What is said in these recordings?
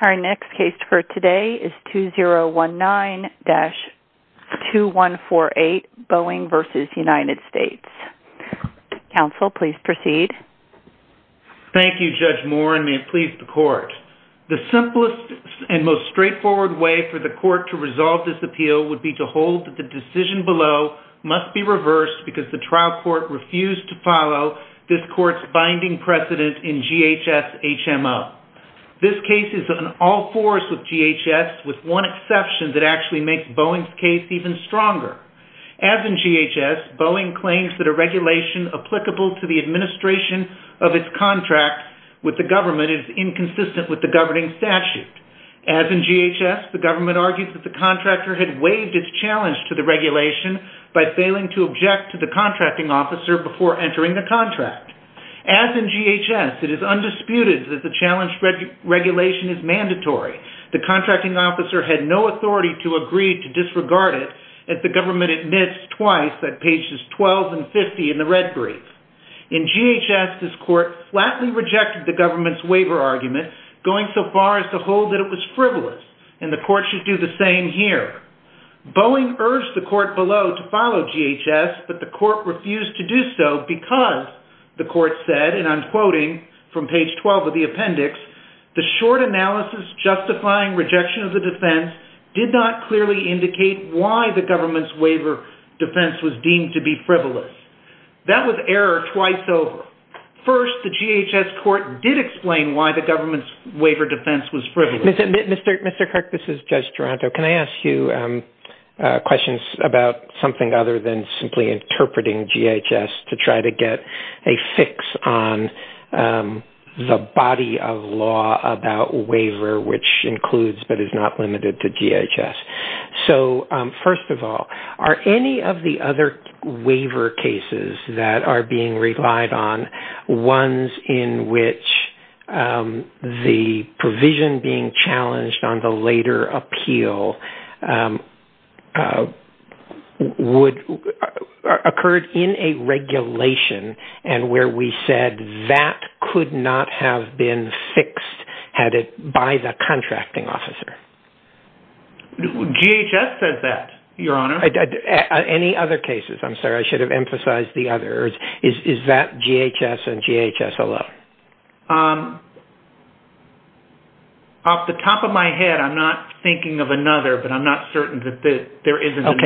Our next case for today is 2019-2148 Boeing v. United States. Counsel, please proceed. Thank you, Judge Moore, and may it please the court. The simplest and most straightforward way for the court to resolve this appeal would be to hold that the decision below must be reversed because the trial court refused to follow this case is an all-force with GHS with one exception that actually makes Boeing's case even stronger. As in GHS, Boeing claims that a regulation applicable to the administration of its contract with the government is inconsistent with the governing statute. As in GHS, the government argues that the contractor had waived its challenge to the regulation by failing to object to the contracting officer before entering the contract. As in GHS, it is undisputed that the challenge regulation is mandatory. The contracting officer had no authority to agree to disregard it as the government admits twice that pages 12 and 50 in the red brief. In GHS, this court flatly rejected the government's waiver argument going so far as to hold that it was frivolous and the court should do the same here. Boeing urged the court below to follow GHS but the short analysis justifying rejection of the defense did not clearly indicate why the government's waiver defense was deemed to be frivolous. That was error twice over. First, the GHS court did explain why the government's waiver defense was frivolous. Mr. Kirk, this is Judge Taranto. Can I ask you questions about something other than simply interpreting GHS to try to get a fix on the body of law about waiver which includes but is not limited to GHS? First of all, are any of the other waiver cases that are being relied on ones in which the provision being challenged on the later appeal occurred in a regulation and where we said that could not have been fixed by the contracting officer? GHS says that, Your Honor. Any other cases? I'm sorry, I should have emphasized the other. Off the top of my head, I'm not thinking of another but I'm not certain that there isn't another.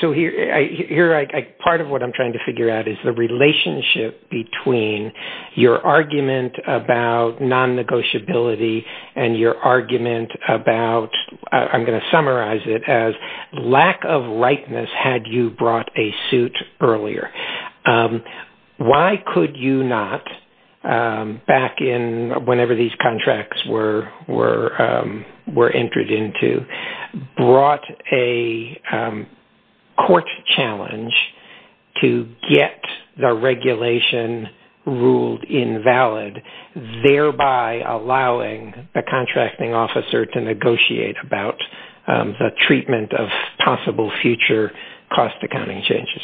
Okay. Part of what I'm trying to figure out is the relationship between your argument about non-negotiability and your argument about, I'm going to summarize it as lack of non-negotiability back in whenever these contracts were entered into brought a court challenge to get the regulation ruled invalid, thereby allowing the contracting officer to negotiate about the treatment of possible future cost accounting changes.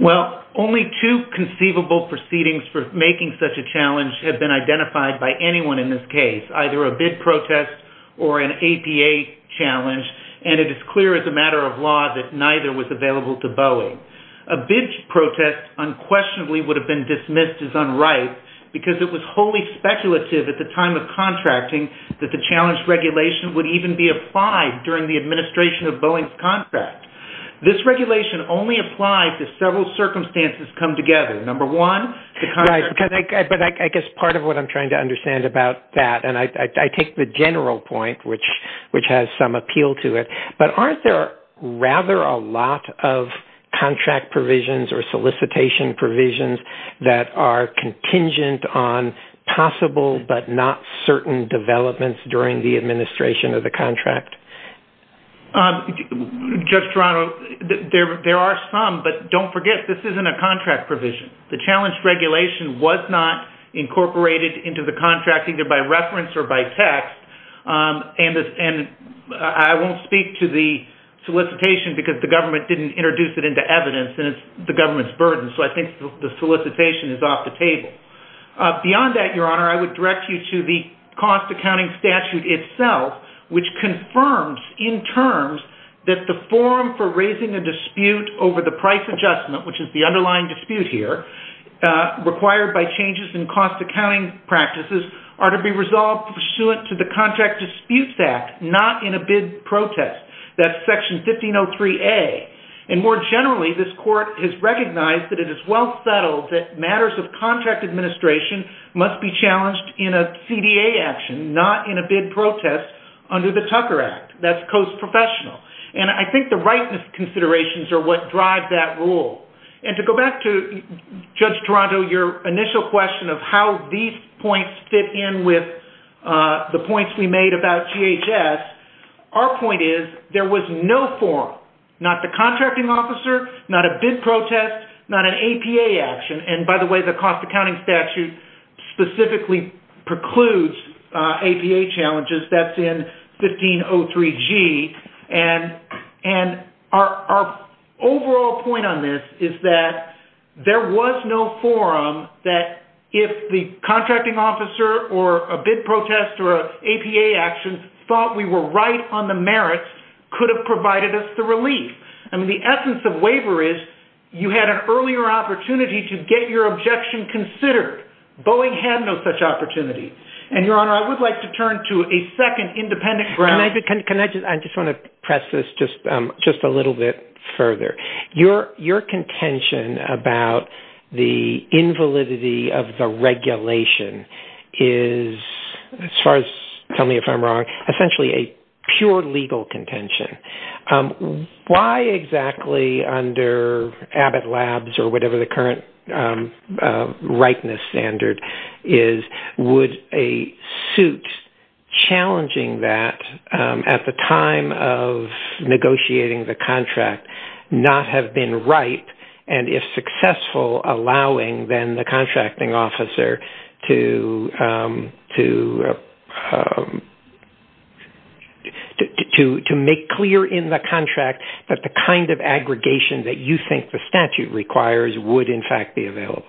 Well, only two conceivable proceedings for making such a challenge have been identified by anyone in this case, either a bid protest or an APA challenge and it is clear as a matter of law that neither was available to Boeing. A bid protest unquestionably would have been dismissed as unright because it was wholly speculative at the time of contracting that the challenge regulation would even be applied during the administration of Boeing's contract. This regulation only applies if several circumstances come together. Number one, the contract... Right, but I guess part of what I'm trying to understand about that, and I take the general point which has some appeal to it, but aren't there rather a lot of contract provisions or solicitation provisions that are contingent on possible but not certain developments during the administration of the contract? Judge Toronto, there are some, but don't forget, this isn't a contract provision. The challenge regulation was not incorporated into the contract either by reference or by text and I won't speak to the solicitation because the government didn't introduce it into evidence and it's the government's burden, so I think the solicitation is off the table. Beyond that, Your Honor, I would direct you to the cost accounting statute itself which confirms in terms that the forum for raising a dispute over the price adjustment, which is the underlying dispute here, required by changes in cost accounting practices are to be resolved pursuant to the Contract Disputes Act, not in a bid protest. That's section 1503A. And more generally, this court has recognized that it is well settled that matters of contract administration must be challenged in a CDA action, not in a bid protest under the Tucker Act. That's Coast Professional. And I think the rightness considerations are what drive that rule. And to go back to, Judge Toronto, your initial question of how these points fit in with the points we made about GHS, our point is there was no forum, not the contracting officer, not a bid protest, not an APA action. And by the way, the cost accounting statute specifically precludes APA challenges. That's in 1503G. And our overall point on this is that there was no forum that if the contracting officer or a bid protest or an APA action thought we were right on the merits, could have provided us the relief. I mean, the essence of waiver is you had an earlier opportunity to get your objection considered. Boeing had no such opportunity. And, Your Honor, I would like to turn to a second independent ground. Can I just, I just want to press this just a little bit further. Your contention about the invalidity of the regulation is, as far as tell me if I'm wrong, essentially a pure legal contention. Why exactly under Abbott Labs or whatever the current rightness standard is, would a suit challenging that at the time of negotiating the contract not have been right? And if successful, allowing then the contracting officer to make clear in the contract that the kind of aggregation that you think the statute requires would in fact be available?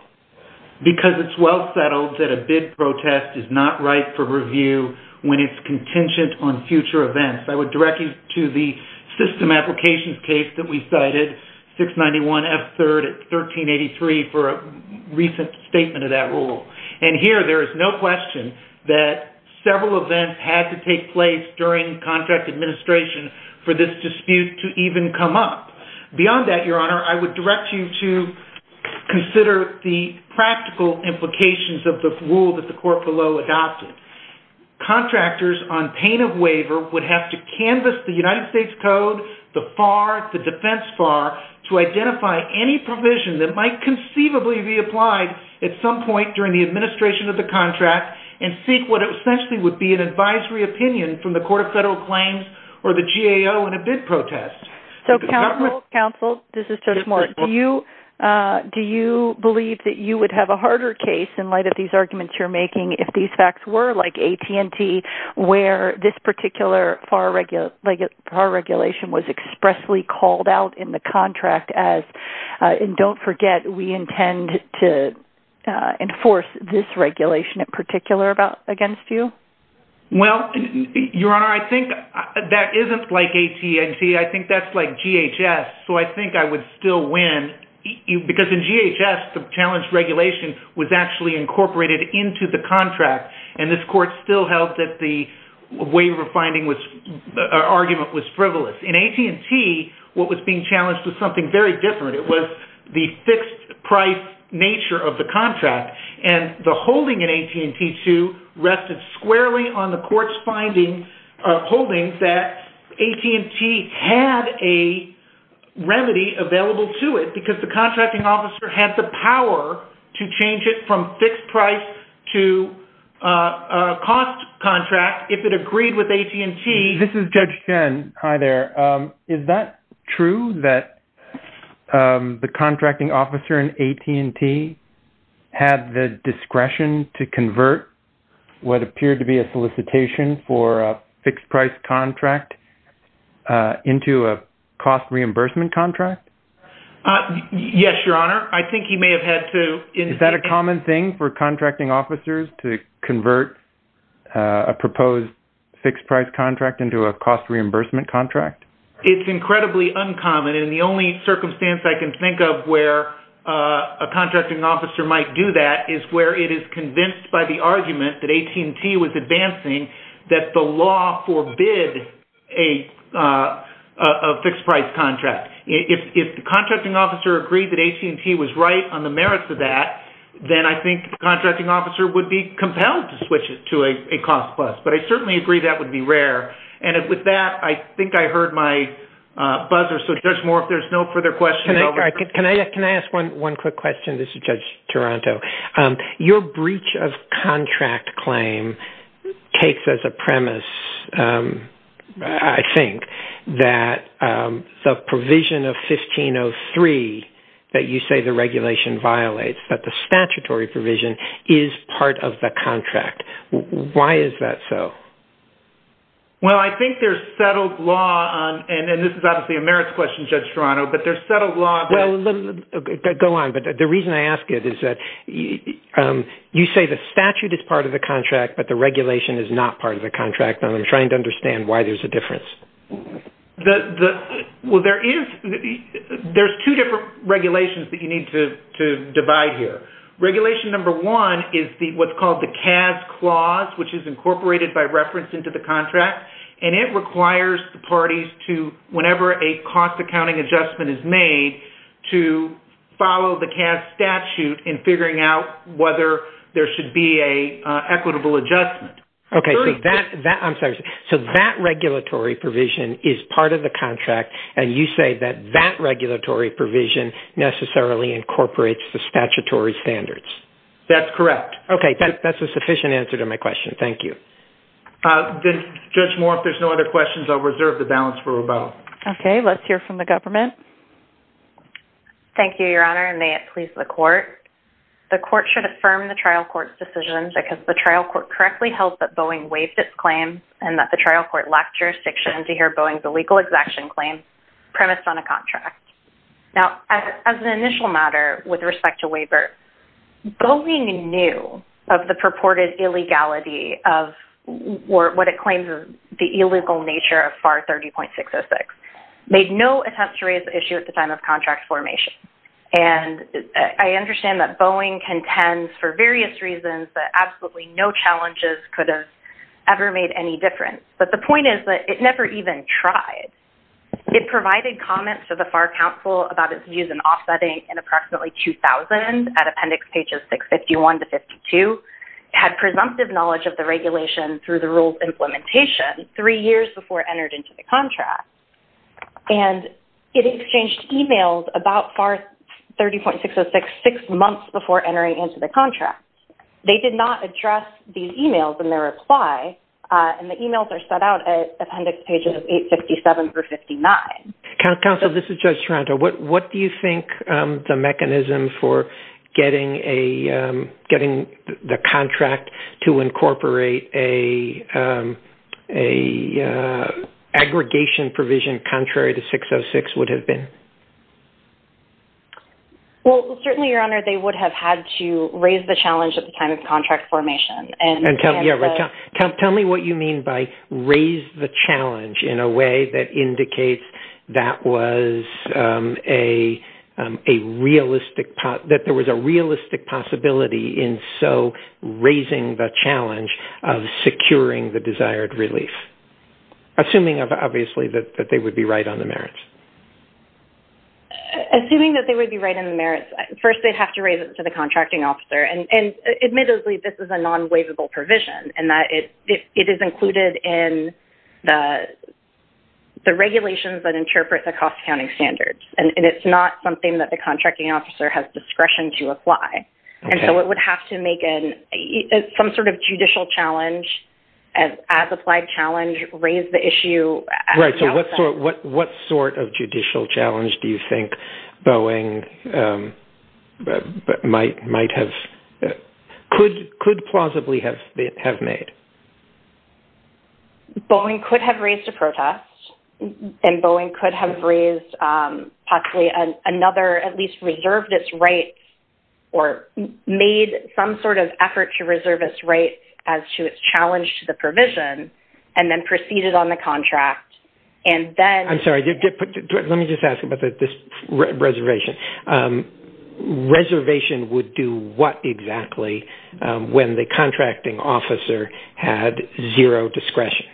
Because it's well settled that a bid protest is not right for review when it's contingent on future events. I would direct you to the system applications case that we cited, 691F3rd at 1383 for a recent statement of that rule. And here there is no question that several events had to take place during contract administration for this dispute to even come up. Beyond that, Your Honor, I would direct you to consider the practical implications of the rule that the court below adopted. Contractors on pain of waiver would have to canvas the United States Code, the FAR, the defense FAR to identify any provision that might conceivably be applied at some point during the administration of the contract and seek what essentially would be an advisory opinion from the Court of Federal Claims or the GAO in a bid protest. So counsel, this is Judge Moore, do you believe that you would have a harder case in light of these arguments you're making if these facts were like AT&T where this particular FAR regulation was expressly called out in the contract as, and don't forget, we intend to enforce this regulation in particular against you? Well, Your Honor, I think that isn't like AT&T. I think that's like GHS. So I think I would still win because in GHS the challenge regulation was actually incorporated into the contract and this court still held that the waiver finding argument was frivolous. In AT&T, what was being challenged was something very different. It was the fixed price nature of the contract and the holding in AT&T, too, rested squarely on the court's findings, holdings that AT&T had a remedy available to it because the contracting officer had the power to change it from fixed price to a cost contract if it agreed with AT&T. This is Judge Chen. Hi there. Is that true that the contracting officer in AT&T had the discretion to convert what appeared to be a solicitation for a fixed price contract into a cost reimbursement contract? Yes, Your Honor. I think he may have had to... Is that a common thing for contracting officers to convert a proposed fixed price contract into a cost reimbursement contract? It's incredibly uncommon. And the only circumstance I can think of where a contracting officer might do that is where it is convinced by the argument that AT&T was advancing that the law forbid a fixed price contract. If the contracting officer agreed that AT&T was right on the merits of that, then I think the contracting officer would be compelled to switch it to a cost plus. But I certainly agree that would be rare. And with that, I think I heard my buzzer. So, Judge Moore, if there's no further questions... Can I ask one quick question? This is Judge Chen. You say there's a provision of 1503 that you say the regulation violates, that the statutory provision is part of the contract. Why is that so? Well, I think there's settled law on... And this is obviously a merits question, Judge Toronto, but there's settled law... Well, go on. But the reason I ask it is that you say the statute is part of the contract, but the regulation is not part of the contract, and I'm trying to understand why there's a difference. Well, there's two different regulations that you need to divide here. Regulation number one is what's called the CAS clause, which is incorporated by reference into the contract, and it requires the parties to, whenever a cost accounting adjustment is made, to follow the CAS statute in figuring out whether there should be an equitable adjustment. Okay. So that regulatory provision is part of the contract, and you say that that regulatory provision necessarily incorporates the statutory standards. That's correct. Okay. That's a sufficient answer to my question. Thank you. Judge Moore, if there's no other questions, I'll reserve the balance for rebuttal. Okay. Let's hear from the government. Thank you, Your Honor, and may it please the court. The court should affirm the trial court's decisions because the trial court correctly held that Boeing waived its claim and that the trial court lacked jurisdiction to hear Boeing's illegal execution claim premised on a contract. Now, as an initial matter with respect to waiver, Boeing knew of the purported illegality of what it claims is the illegal nature of FAR and that Boeing contends for various reasons that absolutely no challenges could have ever made any difference. But the point is that it never even tried. It provided comments to the FAR Council about its views in offsetting in approximately 2000 at appendix pages 651 to 52, had presumptive knowledge of the regulation through the rule's implementation three years before it entered into the contract, and it exchanged emails about FAR 30.606 six months before entering into the contract. They did not address these emails in their reply, and the emails are set out at appendix pages 857 through 59. Counsel, this is Judge Toronto. What do you think the mechanism for getting the contract to incorporate an aggregation provision contrary to 606 would have been? Well, certainly, Your Honor, they would have had to raise the challenge at the time of contract formation. Tell me what you mean by raise the challenge in a way that indicates that there was a realistic possibility in so raising the challenge of securing the desired relief, assuming, obviously, that they would be right on the merits. Assuming that they would be right on the merits, first, they'd have to raise it to the contracting officer. And admittedly, this is a non-waivable provision and that it is included in the regulations that interpret the cost-counting standards, and it's not something that the contracting officer has discretion to apply. And so it would have to make some sort of judicial challenge as applied challenge, raise the issue. Right. So what sort of judicial challenge do you think Boeing might have, could plausibly have made? Boeing could have raised a protest, and Boeing could have raised possibly another, at least reserved its rights, or made some sort of effort to reserve its rights as to its challenge to the provision, and then proceeded on the contract. And then... I'm sorry, let me just ask about this reservation. Reservation would do what exactly when the had zero discretion.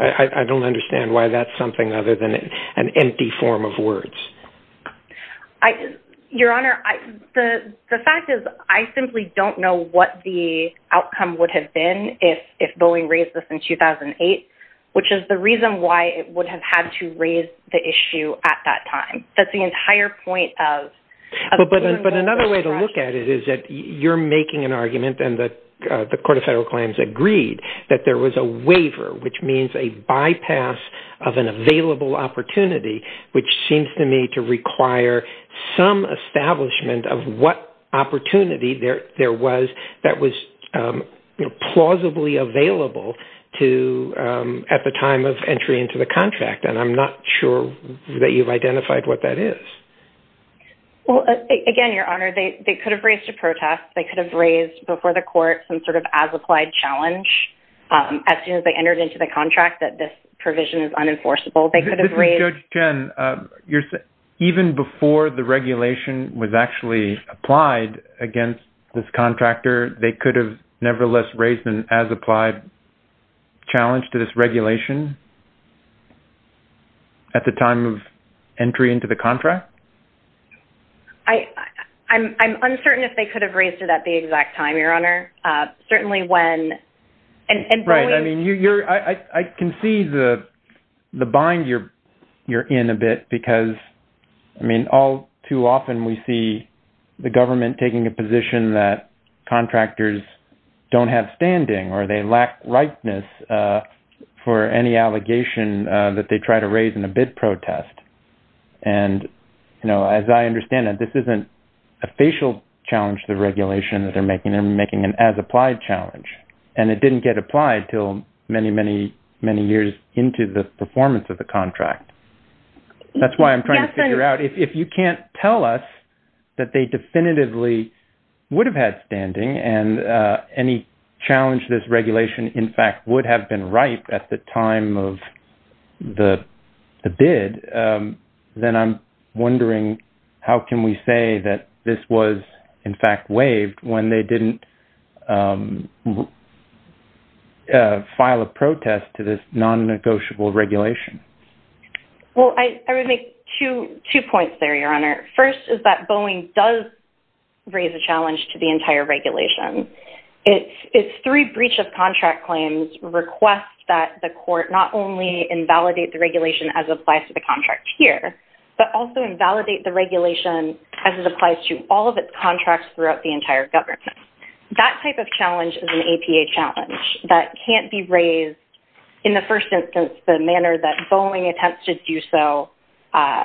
I don't understand why that's something other than an empty form of words. Your Honor, the fact is I simply don't know what the outcome would have been if Boeing raised this in 2008, which is the reason why it would have had to raise the issue at that time. That's the entire point of... But another way to look at it is that you're making an argument and the that there was a waiver, which means a bypass of an available opportunity, which seems to me to require some establishment of what opportunity there was that was plausibly available to... at the time of entry into the contract. And I'm not sure that you've identified what that is. Well, again, Your Honor, they could have raised a protest. They could have raised before the court some sort of as-applied challenge as soon as they entered into the contract that this provision is unenforceable. They could have raised... This is Judge Chen. Even before the regulation was actually applied against this contractor, they could have nevertheless raised an as-applied challenge to this regulation at the time of entry into the contract? I'm uncertain if they could have raised it at the exact time, Your Honor. Certainly when... Right. I mean, I can see the bind you're in a bit because, I mean, all too often we see the government taking a position that contractors don't have standing or they lack rightness for any allegation that they try to raise in a bid protest. And, you know, as I understand it, this isn't a facial challenge to the regulation that they're making. They're making an as-applied challenge. And it didn't get applied till many, many, many years into the performance of the contract. That's why I'm trying to figure out if you can't tell us that they definitively would have had standing, and any challenge to this regulation, in fact, would have been right at the time of the bid, then I'm wondering how can we say that this was, in fact, waived when they didn't file a protest to this non-negotiable regulation? Well, I would make two points there, because I think this is a challenge to the entire regulation. It's three breach of contract claims request that the court not only invalidate the regulation as applies to the contract here, but also invalidate the regulation as it applies to all of its contracts throughout the entire government. That type of challenge is an APA challenge that can't be raised in the first instance, the manner that Boeing attempts to do so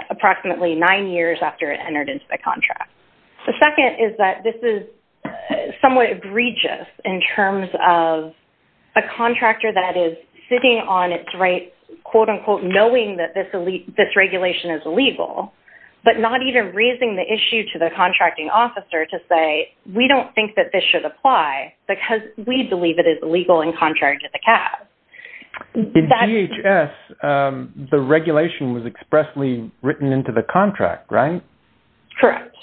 approximately nine years after it entered into the contract. The second is that this is somewhat egregious in terms of a contractor that is sitting on its right, quote, unquote, knowing that this regulation is illegal, but not even raising the issue to the contracting officer to say, we don't think that this should apply, because we believe it is illegal and contrary to the CAS. In DHS, the regulation was expressly written into the contract, right? Correct.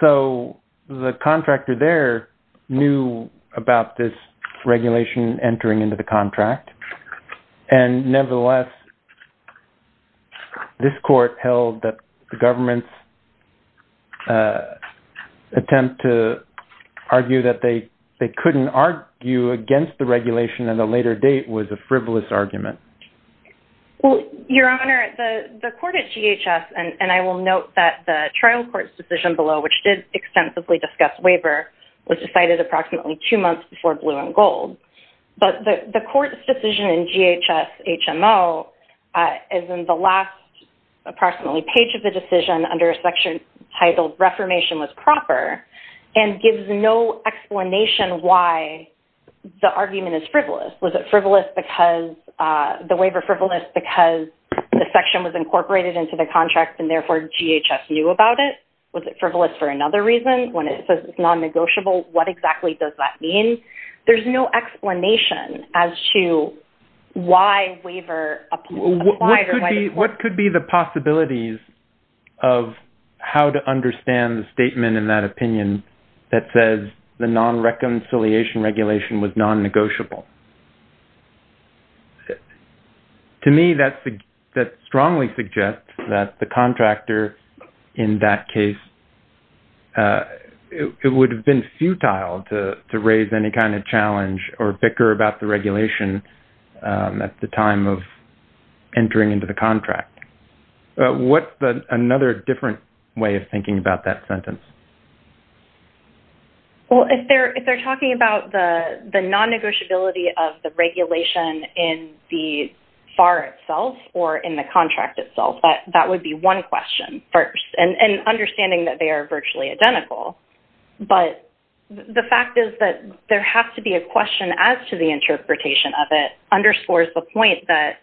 So the contractor there knew about this regulation entering into the contract, and nevertheless, this court held that the government's attempt to argue that they couldn't argue against the regulation at a later date was a frivolous and I will note that the trial court's decision below, which did extensively discuss waiver, was decided approximately two months before blue and gold. But the court's decision in DHS HMO is in the last approximately page of the decision under a section titled reformation was proper, and gives no explanation why the argument is frivolous. Was it frivolous because the waiver frivolous because the section was incorporated into the contract and therefore DHS knew about it? Was it frivolous for another reason when it says it's non-negotiable? What exactly does that mean? There's no explanation as to why waiver... What could be the possibilities of how to understand the statement in that opinion that says the non-reconciliation regulation was non-negotiable? To me, that strongly suggests that the contractor in that case would have been futile to raise any kind of challenge or bicker about the regulation at the time of entering into the contract. What's another different way of thinking about that sentence? Well, if they're talking about the non-negotiability of the regulation in the FAR itself or in the contract itself, that would be one question first, and understanding that they are virtually identical. But the fact is that there has to be a question as to the interpretation of it underscores the point that...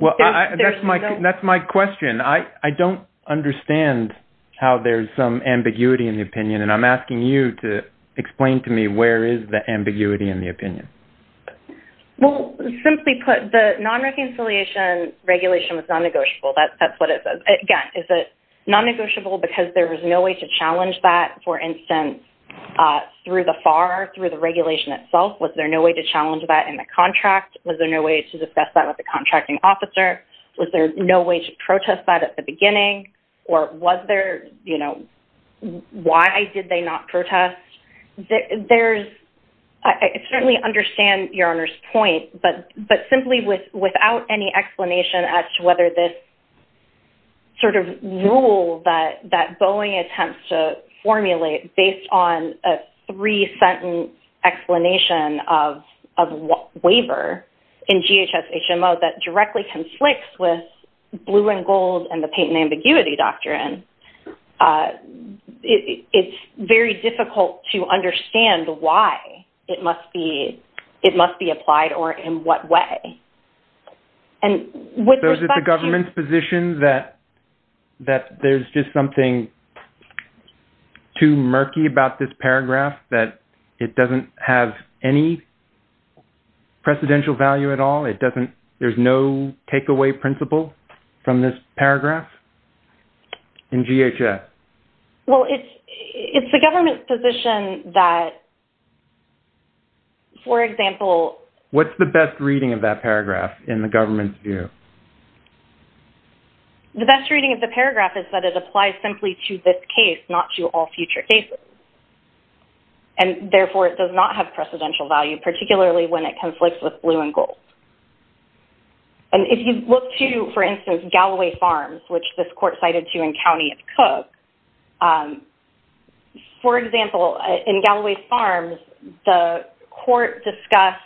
Well, that's my question. I don't understand how there's some ambiguity in the opinion, and I'm asking you to explain to me where is the ambiguity in the opinion? Well, simply put, the non-reconciliation regulation was non-negotiable. That's what it says. Again, is it non-negotiable because there was no way to challenge that, for instance, through the FAR, through the regulation itself? Was there no way to challenge that in the contract? Was there no way to discuss that with the contracting officer? Was there no way to protest that at the beginning? Or was there... Why did they not protest? There's... I certainly understand Your Honor's point, but simply without any explanation as to whether this sort of rule that Boeing attempts to formulate based on a three-sentence explanation of waiver in GHS-HMO that directly conflicts with it, it's very difficult to understand why it must be applied or in what way. And with respect to... So is it the government's position that there's just something too murky about this paragraph that it doesn't have any precedential value at all? There's no takeaway principle from this paragraph in GHS? Well, it's the government's position that, for example... What's the best reading of that paragraph in the government's view? The best reading of the paragraph is that it applies simply to this case, not to all future cases. And therefore, it does not have precedential value, particularly when it conflicts with blue and gold. And if you look to, for instance, Galloway Farms, which this is... For example, in Galloway Farms, the court discussed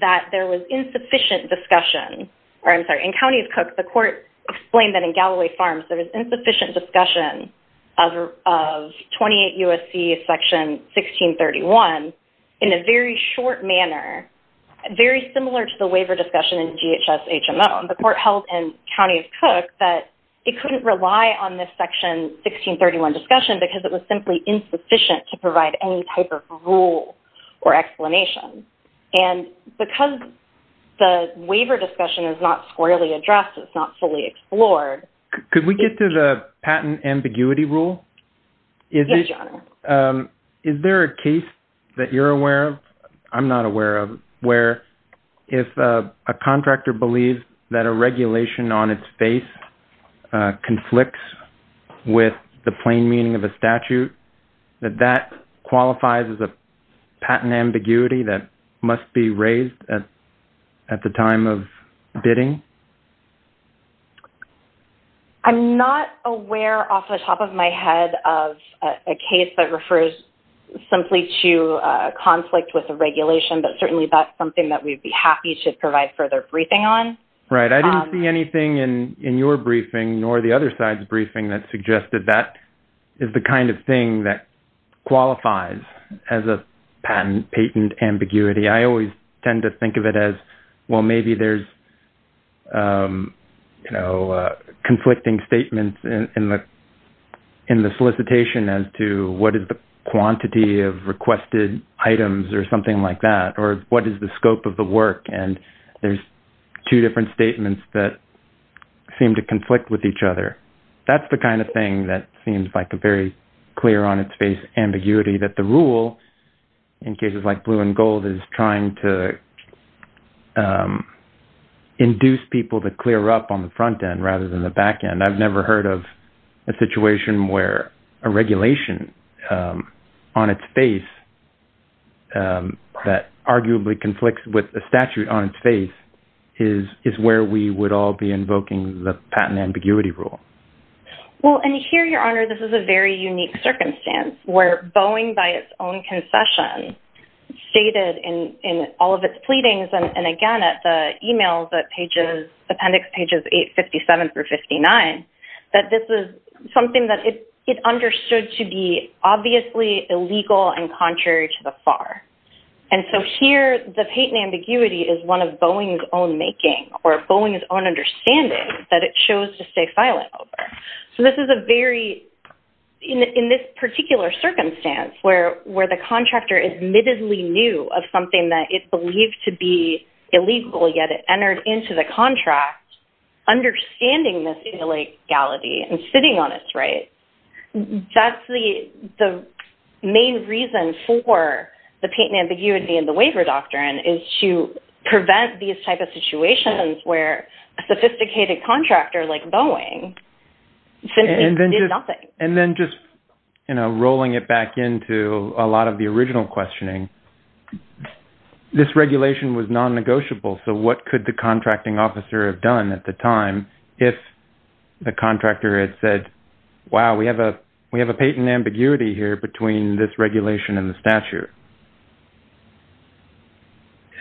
that there was insufficient discussion... Or I'm sorry, in Counties Cook, the court explained that in Galloway Farms, there was insufficient discussion of 28 U.S.C. Section 1631 in a very short manner, very similar to the waiver discussion in GHS-HMO. And the court held in Counties Cook that it was insufficient to provide any type of rule or explanation. And because the waiver discussion is not squarely addressed, it's not fully explored... Could we get to the patent ambiguity rule? Yes, your honor. Is there a case that you're aware of, I'm not aware of, where if a contractor believes that a regulation on its face conflicts with the plain meaning of a statute, that that qualifies as a patent ambiguity that must be raised at the time of bidding? I'm not aware off the top of my head of a case that refers simply to a conflict with a regulation, but certainly that's something that we'd be happy to provide further briefing on. Right. I didn't see anything in your briefing nor the other side's briefing that suggested that is the kind of thing that qualifies as a patent ambiguity. I always tend to think of it as, well, maybe there's conflicting statements in the solicitation as to what is the quantity of requested items or something like that, or what is the scope of the work? And there's two different statements that seem to conflict with each other. That's the kind of thing that seems like a very clear on its face ambiguity that the rule in cases like blue and gold is trying to induce people to clear up on the front end rather than the back end. I've never heard of a situation where a regulation on its face that arguably conflicts with a statute on its face is where we would all be invoking the patent ambiguity rule. Well, and here, Your Honor, this is a very unique circumstance where Boeing by its own concession stated in all of its pleadings, and again, at the email that appendix pages 857 through 59, that this is something that it understood to be obviously illegal and contrary to the FAR. And so here, the patent ambiguity is one of Boeing's own making or Boeing's own understanding that it chose to stay silent over. So this is a very, in this particular circumstance, where the contractor admittedly knew of something that it believed to be illegality and sitting on its right. That's the main reason for the patent ambiguity and the waiver doctrine is to prevent these types of situations where a sophisticated contractor like Boeing simply did nothing. And then just rolling it back into a lot of the original questioning, this regulation was non-negotiable. So what could the contracting officer have done at the time if the contractor had said, wow, we have a patent ambiguity here between this regulation and the statute?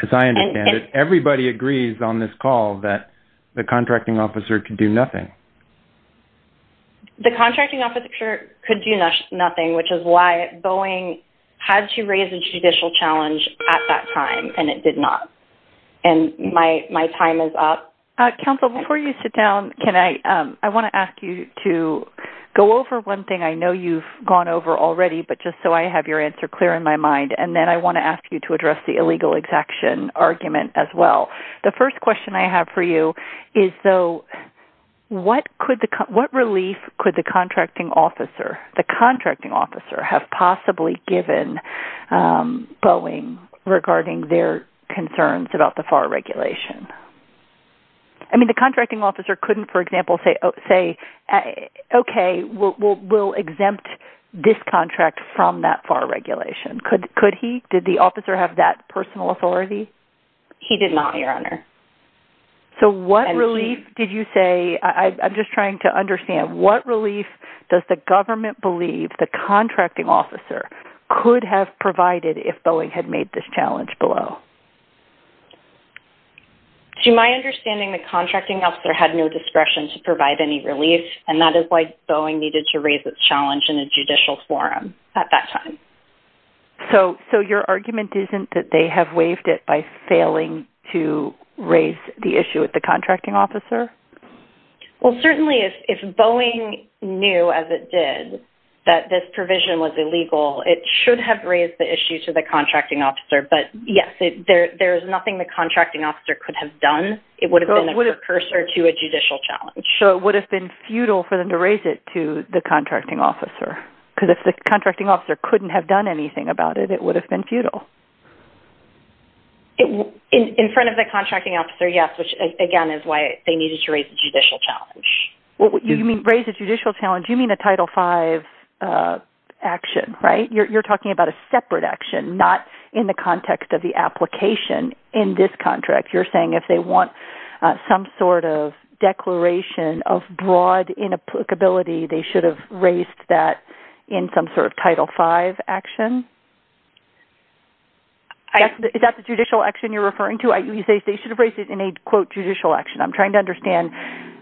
As I understand it, everybody agrees on this call that the contracting officer could do nothing. The contracting officer could do nothing, which is why Boeing had to raise a judicial challenge at that time, and it did not. And my time is up. Counsel, before you sit down, can I, I want to ask you to go over one thing I know you've gone over already, but just so I have your answer clear in my mind. And then I want to ask you to address the illegal exaction argument as well. The first question I have for you is, so what could the, what relief could the contracting officer, the contracting officer have possibly given Boeing regarding their concerns about the FAR regulation? I mean, the contracting officer couldn't, for example, say, okay, we'll exempt this contract from that FAR regulation. Could he? Did the officer have that personal authority? He did not, Your Honor. So what relief did you say, I'm just trying to understand, what relief does the government believe the contracting officer could have provided if Boeing had made this challenge below? To my understanding, the contracting officer had no discretion to provide any relief, and that is why Boeing needed to raise its challenge in a judicial forum at that time. So, so your argument isn't that they have waived it by failing to raise the issue with the that this provision was illegal. It should have raised the issue to the contracting officer, but yes, there's nothing the contracting officer could have done. It would have been a precursor to a judicial challenge. So it would have been futile for them to raise it to the contracting officer, because if the contracting officer couldn't have done anything about it, it would have been futile. In front of the contracting officer, yes, which again is why they needed to raise the judicial challenge. You mean raise a judicial challenge, you mean a Title V action, right? You're talking about a separate action, not in the context of the application in this contract. You're saying if they want some sort of declaration of broad inapplicability, they should have raised that in some sort of Title V action? Is that the judicial action you're referring to? You say they should have raised it in a judicial action. I'm trying to understand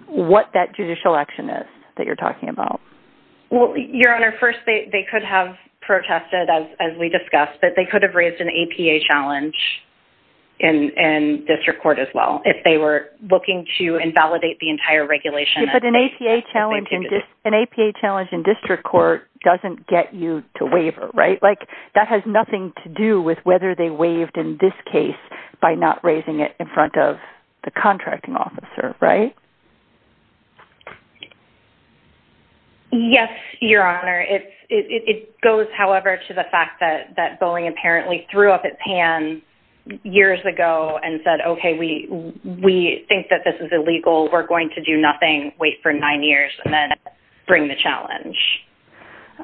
what that judicial action is that you're talking about. Well, Your Honor, first, they could have protested, as we discussed, that they could have raised an APA challenge in district court as well, if they were looking to invalidate the entire regulation. But an APA challenge in district court doesn't get you to waiver, right? That has nothing to do with whether they waived in this case by not raising it in front of the contracting officer, right? Yes, Your Honor. It goes, however, to the fact that Boeing apparently threw up its hand years ago and said, okay, we think that this is illegal, we're going to do nothing, wait for nine years, and then bring the challenge.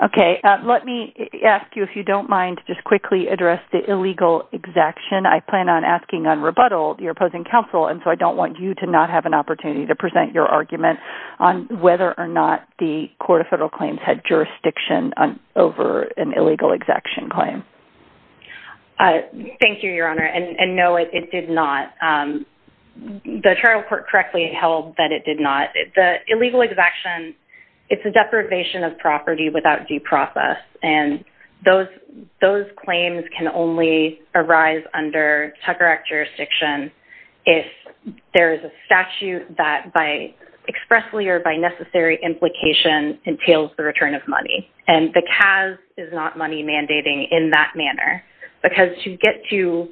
Okay. Let me ask you, if you don't mind, just quickly address the illegal exaction. I plan on asking on rebuttal, you're opposing counsel, and so I don't want you to not have an opportunity to present your argument on whether or not the Court of Federal Claims had jurisdiction over an illegal exaction claim. Thank you, Your Honor. And no, it did not. The trial court correctly held that it did not. The illegal exaction, it's a deprivation of property without due process. And those claims can only arise under Tucker Act jurisdiction if there is a statute that by expressly or by necessary implication entails the return of money. And the CAS is not money mandating in that manner, because to get to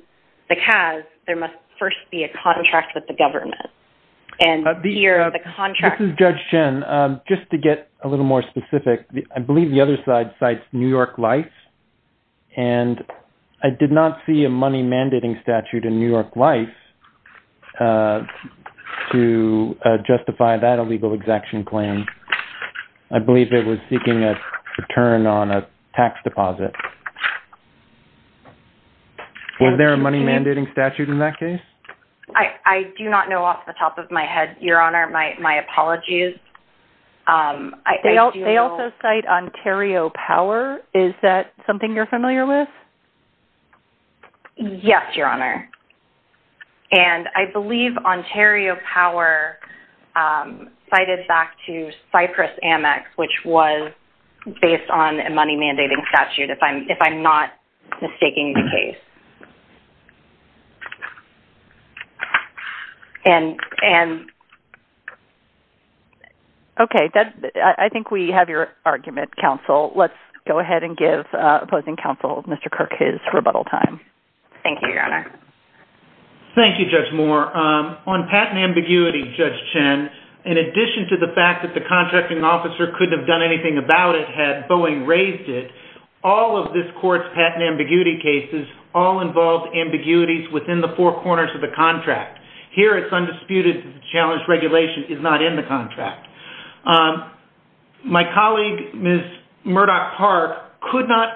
the CAS, there must first be a contract with the government. And here, the contract- This is Judge Chen. Just to get a little more specific, I believe the other side cites New York Life, and I did not see a money mandating statute in New York Life to justify that illegal exaction claim. I believe it was seeking a return on a tax deposit. Was there a money mandating statute in that case? I do not know off the top of my head, Your Honor. My apologies. They also cite Ontario Power. Is that something you're familiar with? Yes, Your Honor. And I believe Ontario Power cited back to Cypress Amex, which was based on a money mandating statute, if I'm not mistaking the case. Okay. I think we have your argument, counsel. Let's go ahead and give opposing counsel, Mr. Kirk, his rebuttal time. Thank you, Your Honor. Thank you, Judge Moore. On patent ambiguity, Judge Chen, in addition to the fact that the contracting officer couldn't have done anything about it had Boeing raised it, all of this court's patent ambiguity cases all involved ambiguities within the four corners of the contract. Here it's undisputed that the challenge regulation is not in the contract. My colleague, Ms. Murdoch-Park, could not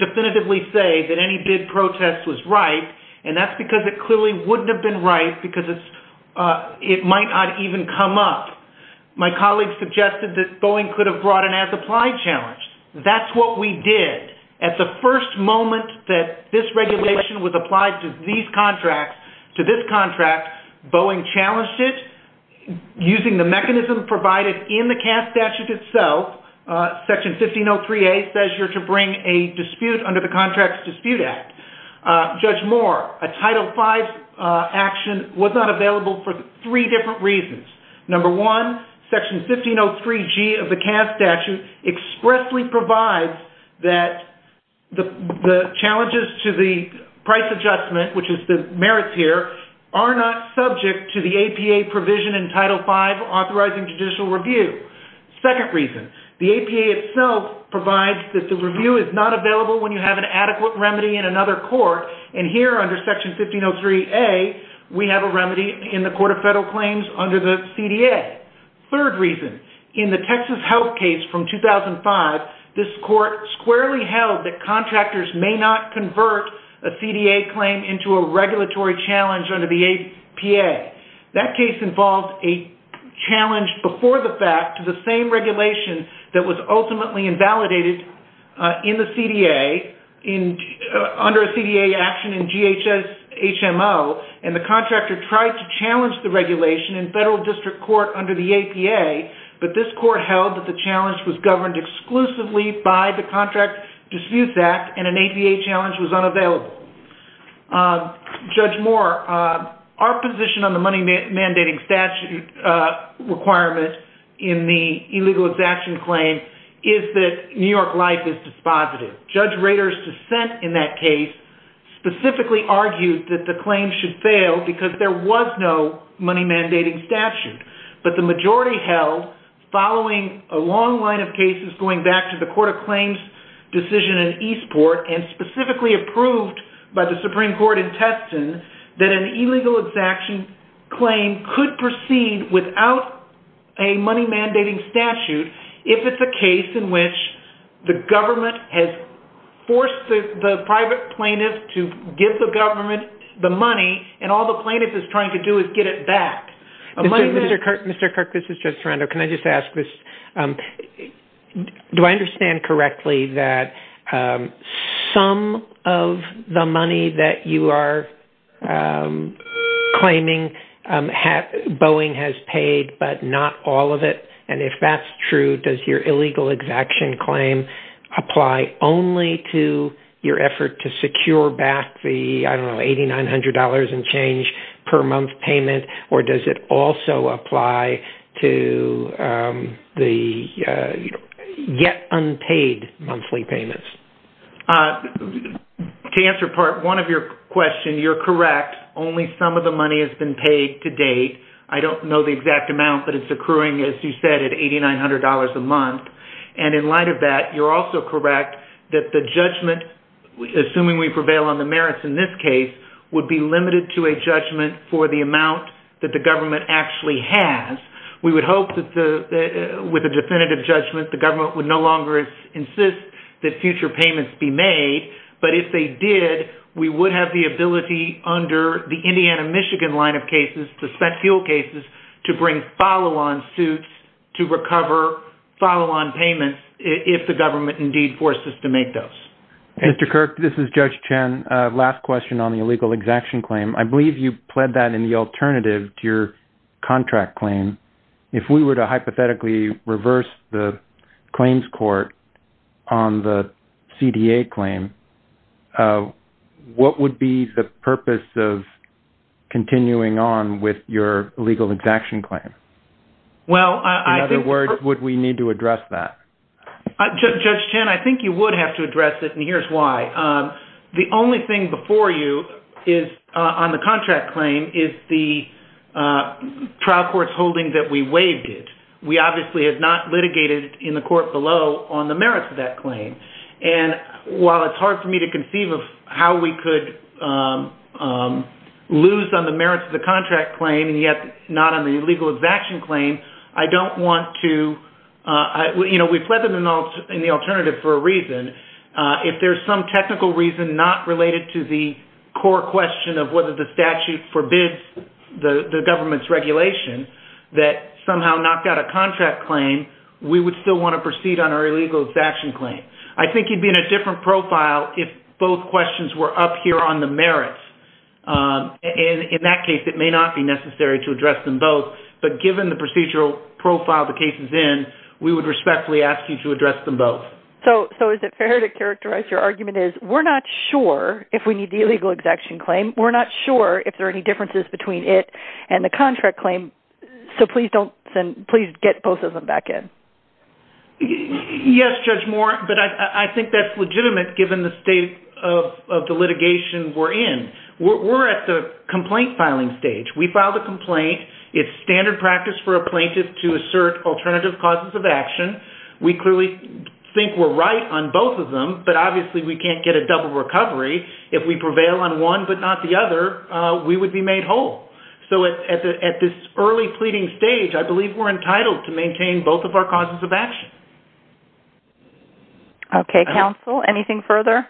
definitively say that any bid protest was right, and that's because it clearly wouldn't have been right because it might not even come up. My colleague suggested that Boeing could have brought an as-applied challenge. That's what we did. At the first moment that this regulation was applied to these contracts, to this contract, Boeing challenged it using the mechanism provided in the CAS statute itself. Section 1503A says you're to bring a dispute under the Contracts Dispute Act. Judge Moore, a Title V action was not available for three different reasons. Number one, Section 1503G of the CAS statute expressly provides that the challenges to the price adjustment, which is the merits here, are not subject to the APA provision in Title V authorizing judicial review. Second reason, the APA itself provides that the review is not available when you have an adequate remedy in another court, and here under Section 1503A, we have a remedy in the Court of Federal Claims under the CDA. Third reason, in the Texas Health case from 2005, this court squarely held that contractors may not convert a CDA claim into a regulatory challenge under the APA. That case involved a challenge before the fact to the same regulation that was ultimately invalidated in the CDA under a CDA action in GHS-HMO, and the contractor tried to challenge the regulation in federal district court under the APA, but this court held that the challenge was governed exclusively by the Contracts Disputes Act, and an APA challenge was unavailable. Judge Moore, our position on the money mandating statute requirement in the illegal exaction claim is that New York life is positive. Judge Rader's dissent in that case specifically argued that the claim should fail because there was no money mandating statute, but the majority held following a long line of cases going back to the Court of Claims decision in Eastport, and specifically approved by the Supreme Court in Teston, that an illegal exaction claim could proceed without a money mandating statute if it's a case in which the government has forced the private plaintiff to give the government the money, and all the plaintiff is trying to do is get it back. Mr. Kirk, this is Judge Sorrento. Can I just ask this? Do I understand correctly that some of the money that you are claiming Boeing has paid, but not all of it, and if that's true, does your illegal exaction claim apply only to your effort to secure back the, I don't know, $8,900 and change per month payment, or does it also apply to the yet unpaid monthly payments? To answer part one of your question, you're correct. Only some of the money has been paid to date. I don't know the exact amount, but it's accruing, as you said, at $8,900 a month, and in light of that, you're also correct that the judgment, assuming we prevail on the merits in this case, would be limited to a judgment for the amount that the government actually has. We would hope that with a definitive judgment, the government would no longer insist that future payments be made, but if they did, we would have the ability under the Indiana, Michigan line of cases, to spent fuel cases, to bring follow-on suits to recover follow-on payments if the government indeed forces to make those. Mr. Kirk, this is Judge Chen. Last question on the illegal exaction claim. I believe you pled that in the alternative to your contract claim. If we were to hypothetically reverse the claims court on the CDA claim, what would be the purpose of continuing on with your illegal exaction claim? In other words, would we need to address that? Judge Chen, I think you would have to address it, and here's why. The only thing before you on the contract claim is the trial court's holding that we waived it. We obviously have not litigated in the court below on the merits of that claim, and while it's hard for me to conceive of how we could lose on the merits of the contract claim and yet not on the illegal exaction claim, I don't want to... We pled them in the alternative for a reason. If there's some technical reason not related to the core question of whether the statute forbids the government's regulation that somehow knocked out a contract claim, we would still want to proceed on our illegal exaction claim. I think you'd be in a different profile if both questions were up here on the merits. In that case, it may not be necessary to address them both, but given the procedural profile the case is in, we would respectfully ask you to address them both. So is it fair to characterize your argument as, we're not sure if we need the illegal exaction claim, we're not sure if there are any differences between it and the contract claim, so please get both of them back in? Yes, Judge Moore, but I think that's legitimate given the state of the litigation we're in. We're at the complaint filing stage. We filed a complaint. It's standard practice for a plaintiff to assert alternative causes of action. We clearly think we're right on both of them, but obviously we can't get a double recovery if we prevail on one but not the other. We would be made whole. So at this early pleading stage, I believe we're entitled to maintain both of our causes of action. Okay, counsel, anything further?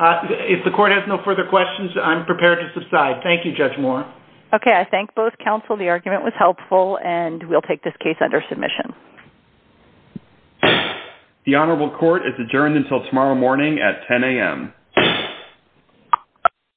If the court has no further questions, I'm prepared to subside. Thank you, Judge Moore. Okay, I thank both counsel. The argument was adjourned. The honorable court is adjourned until tomorrow morning at 10 a.m.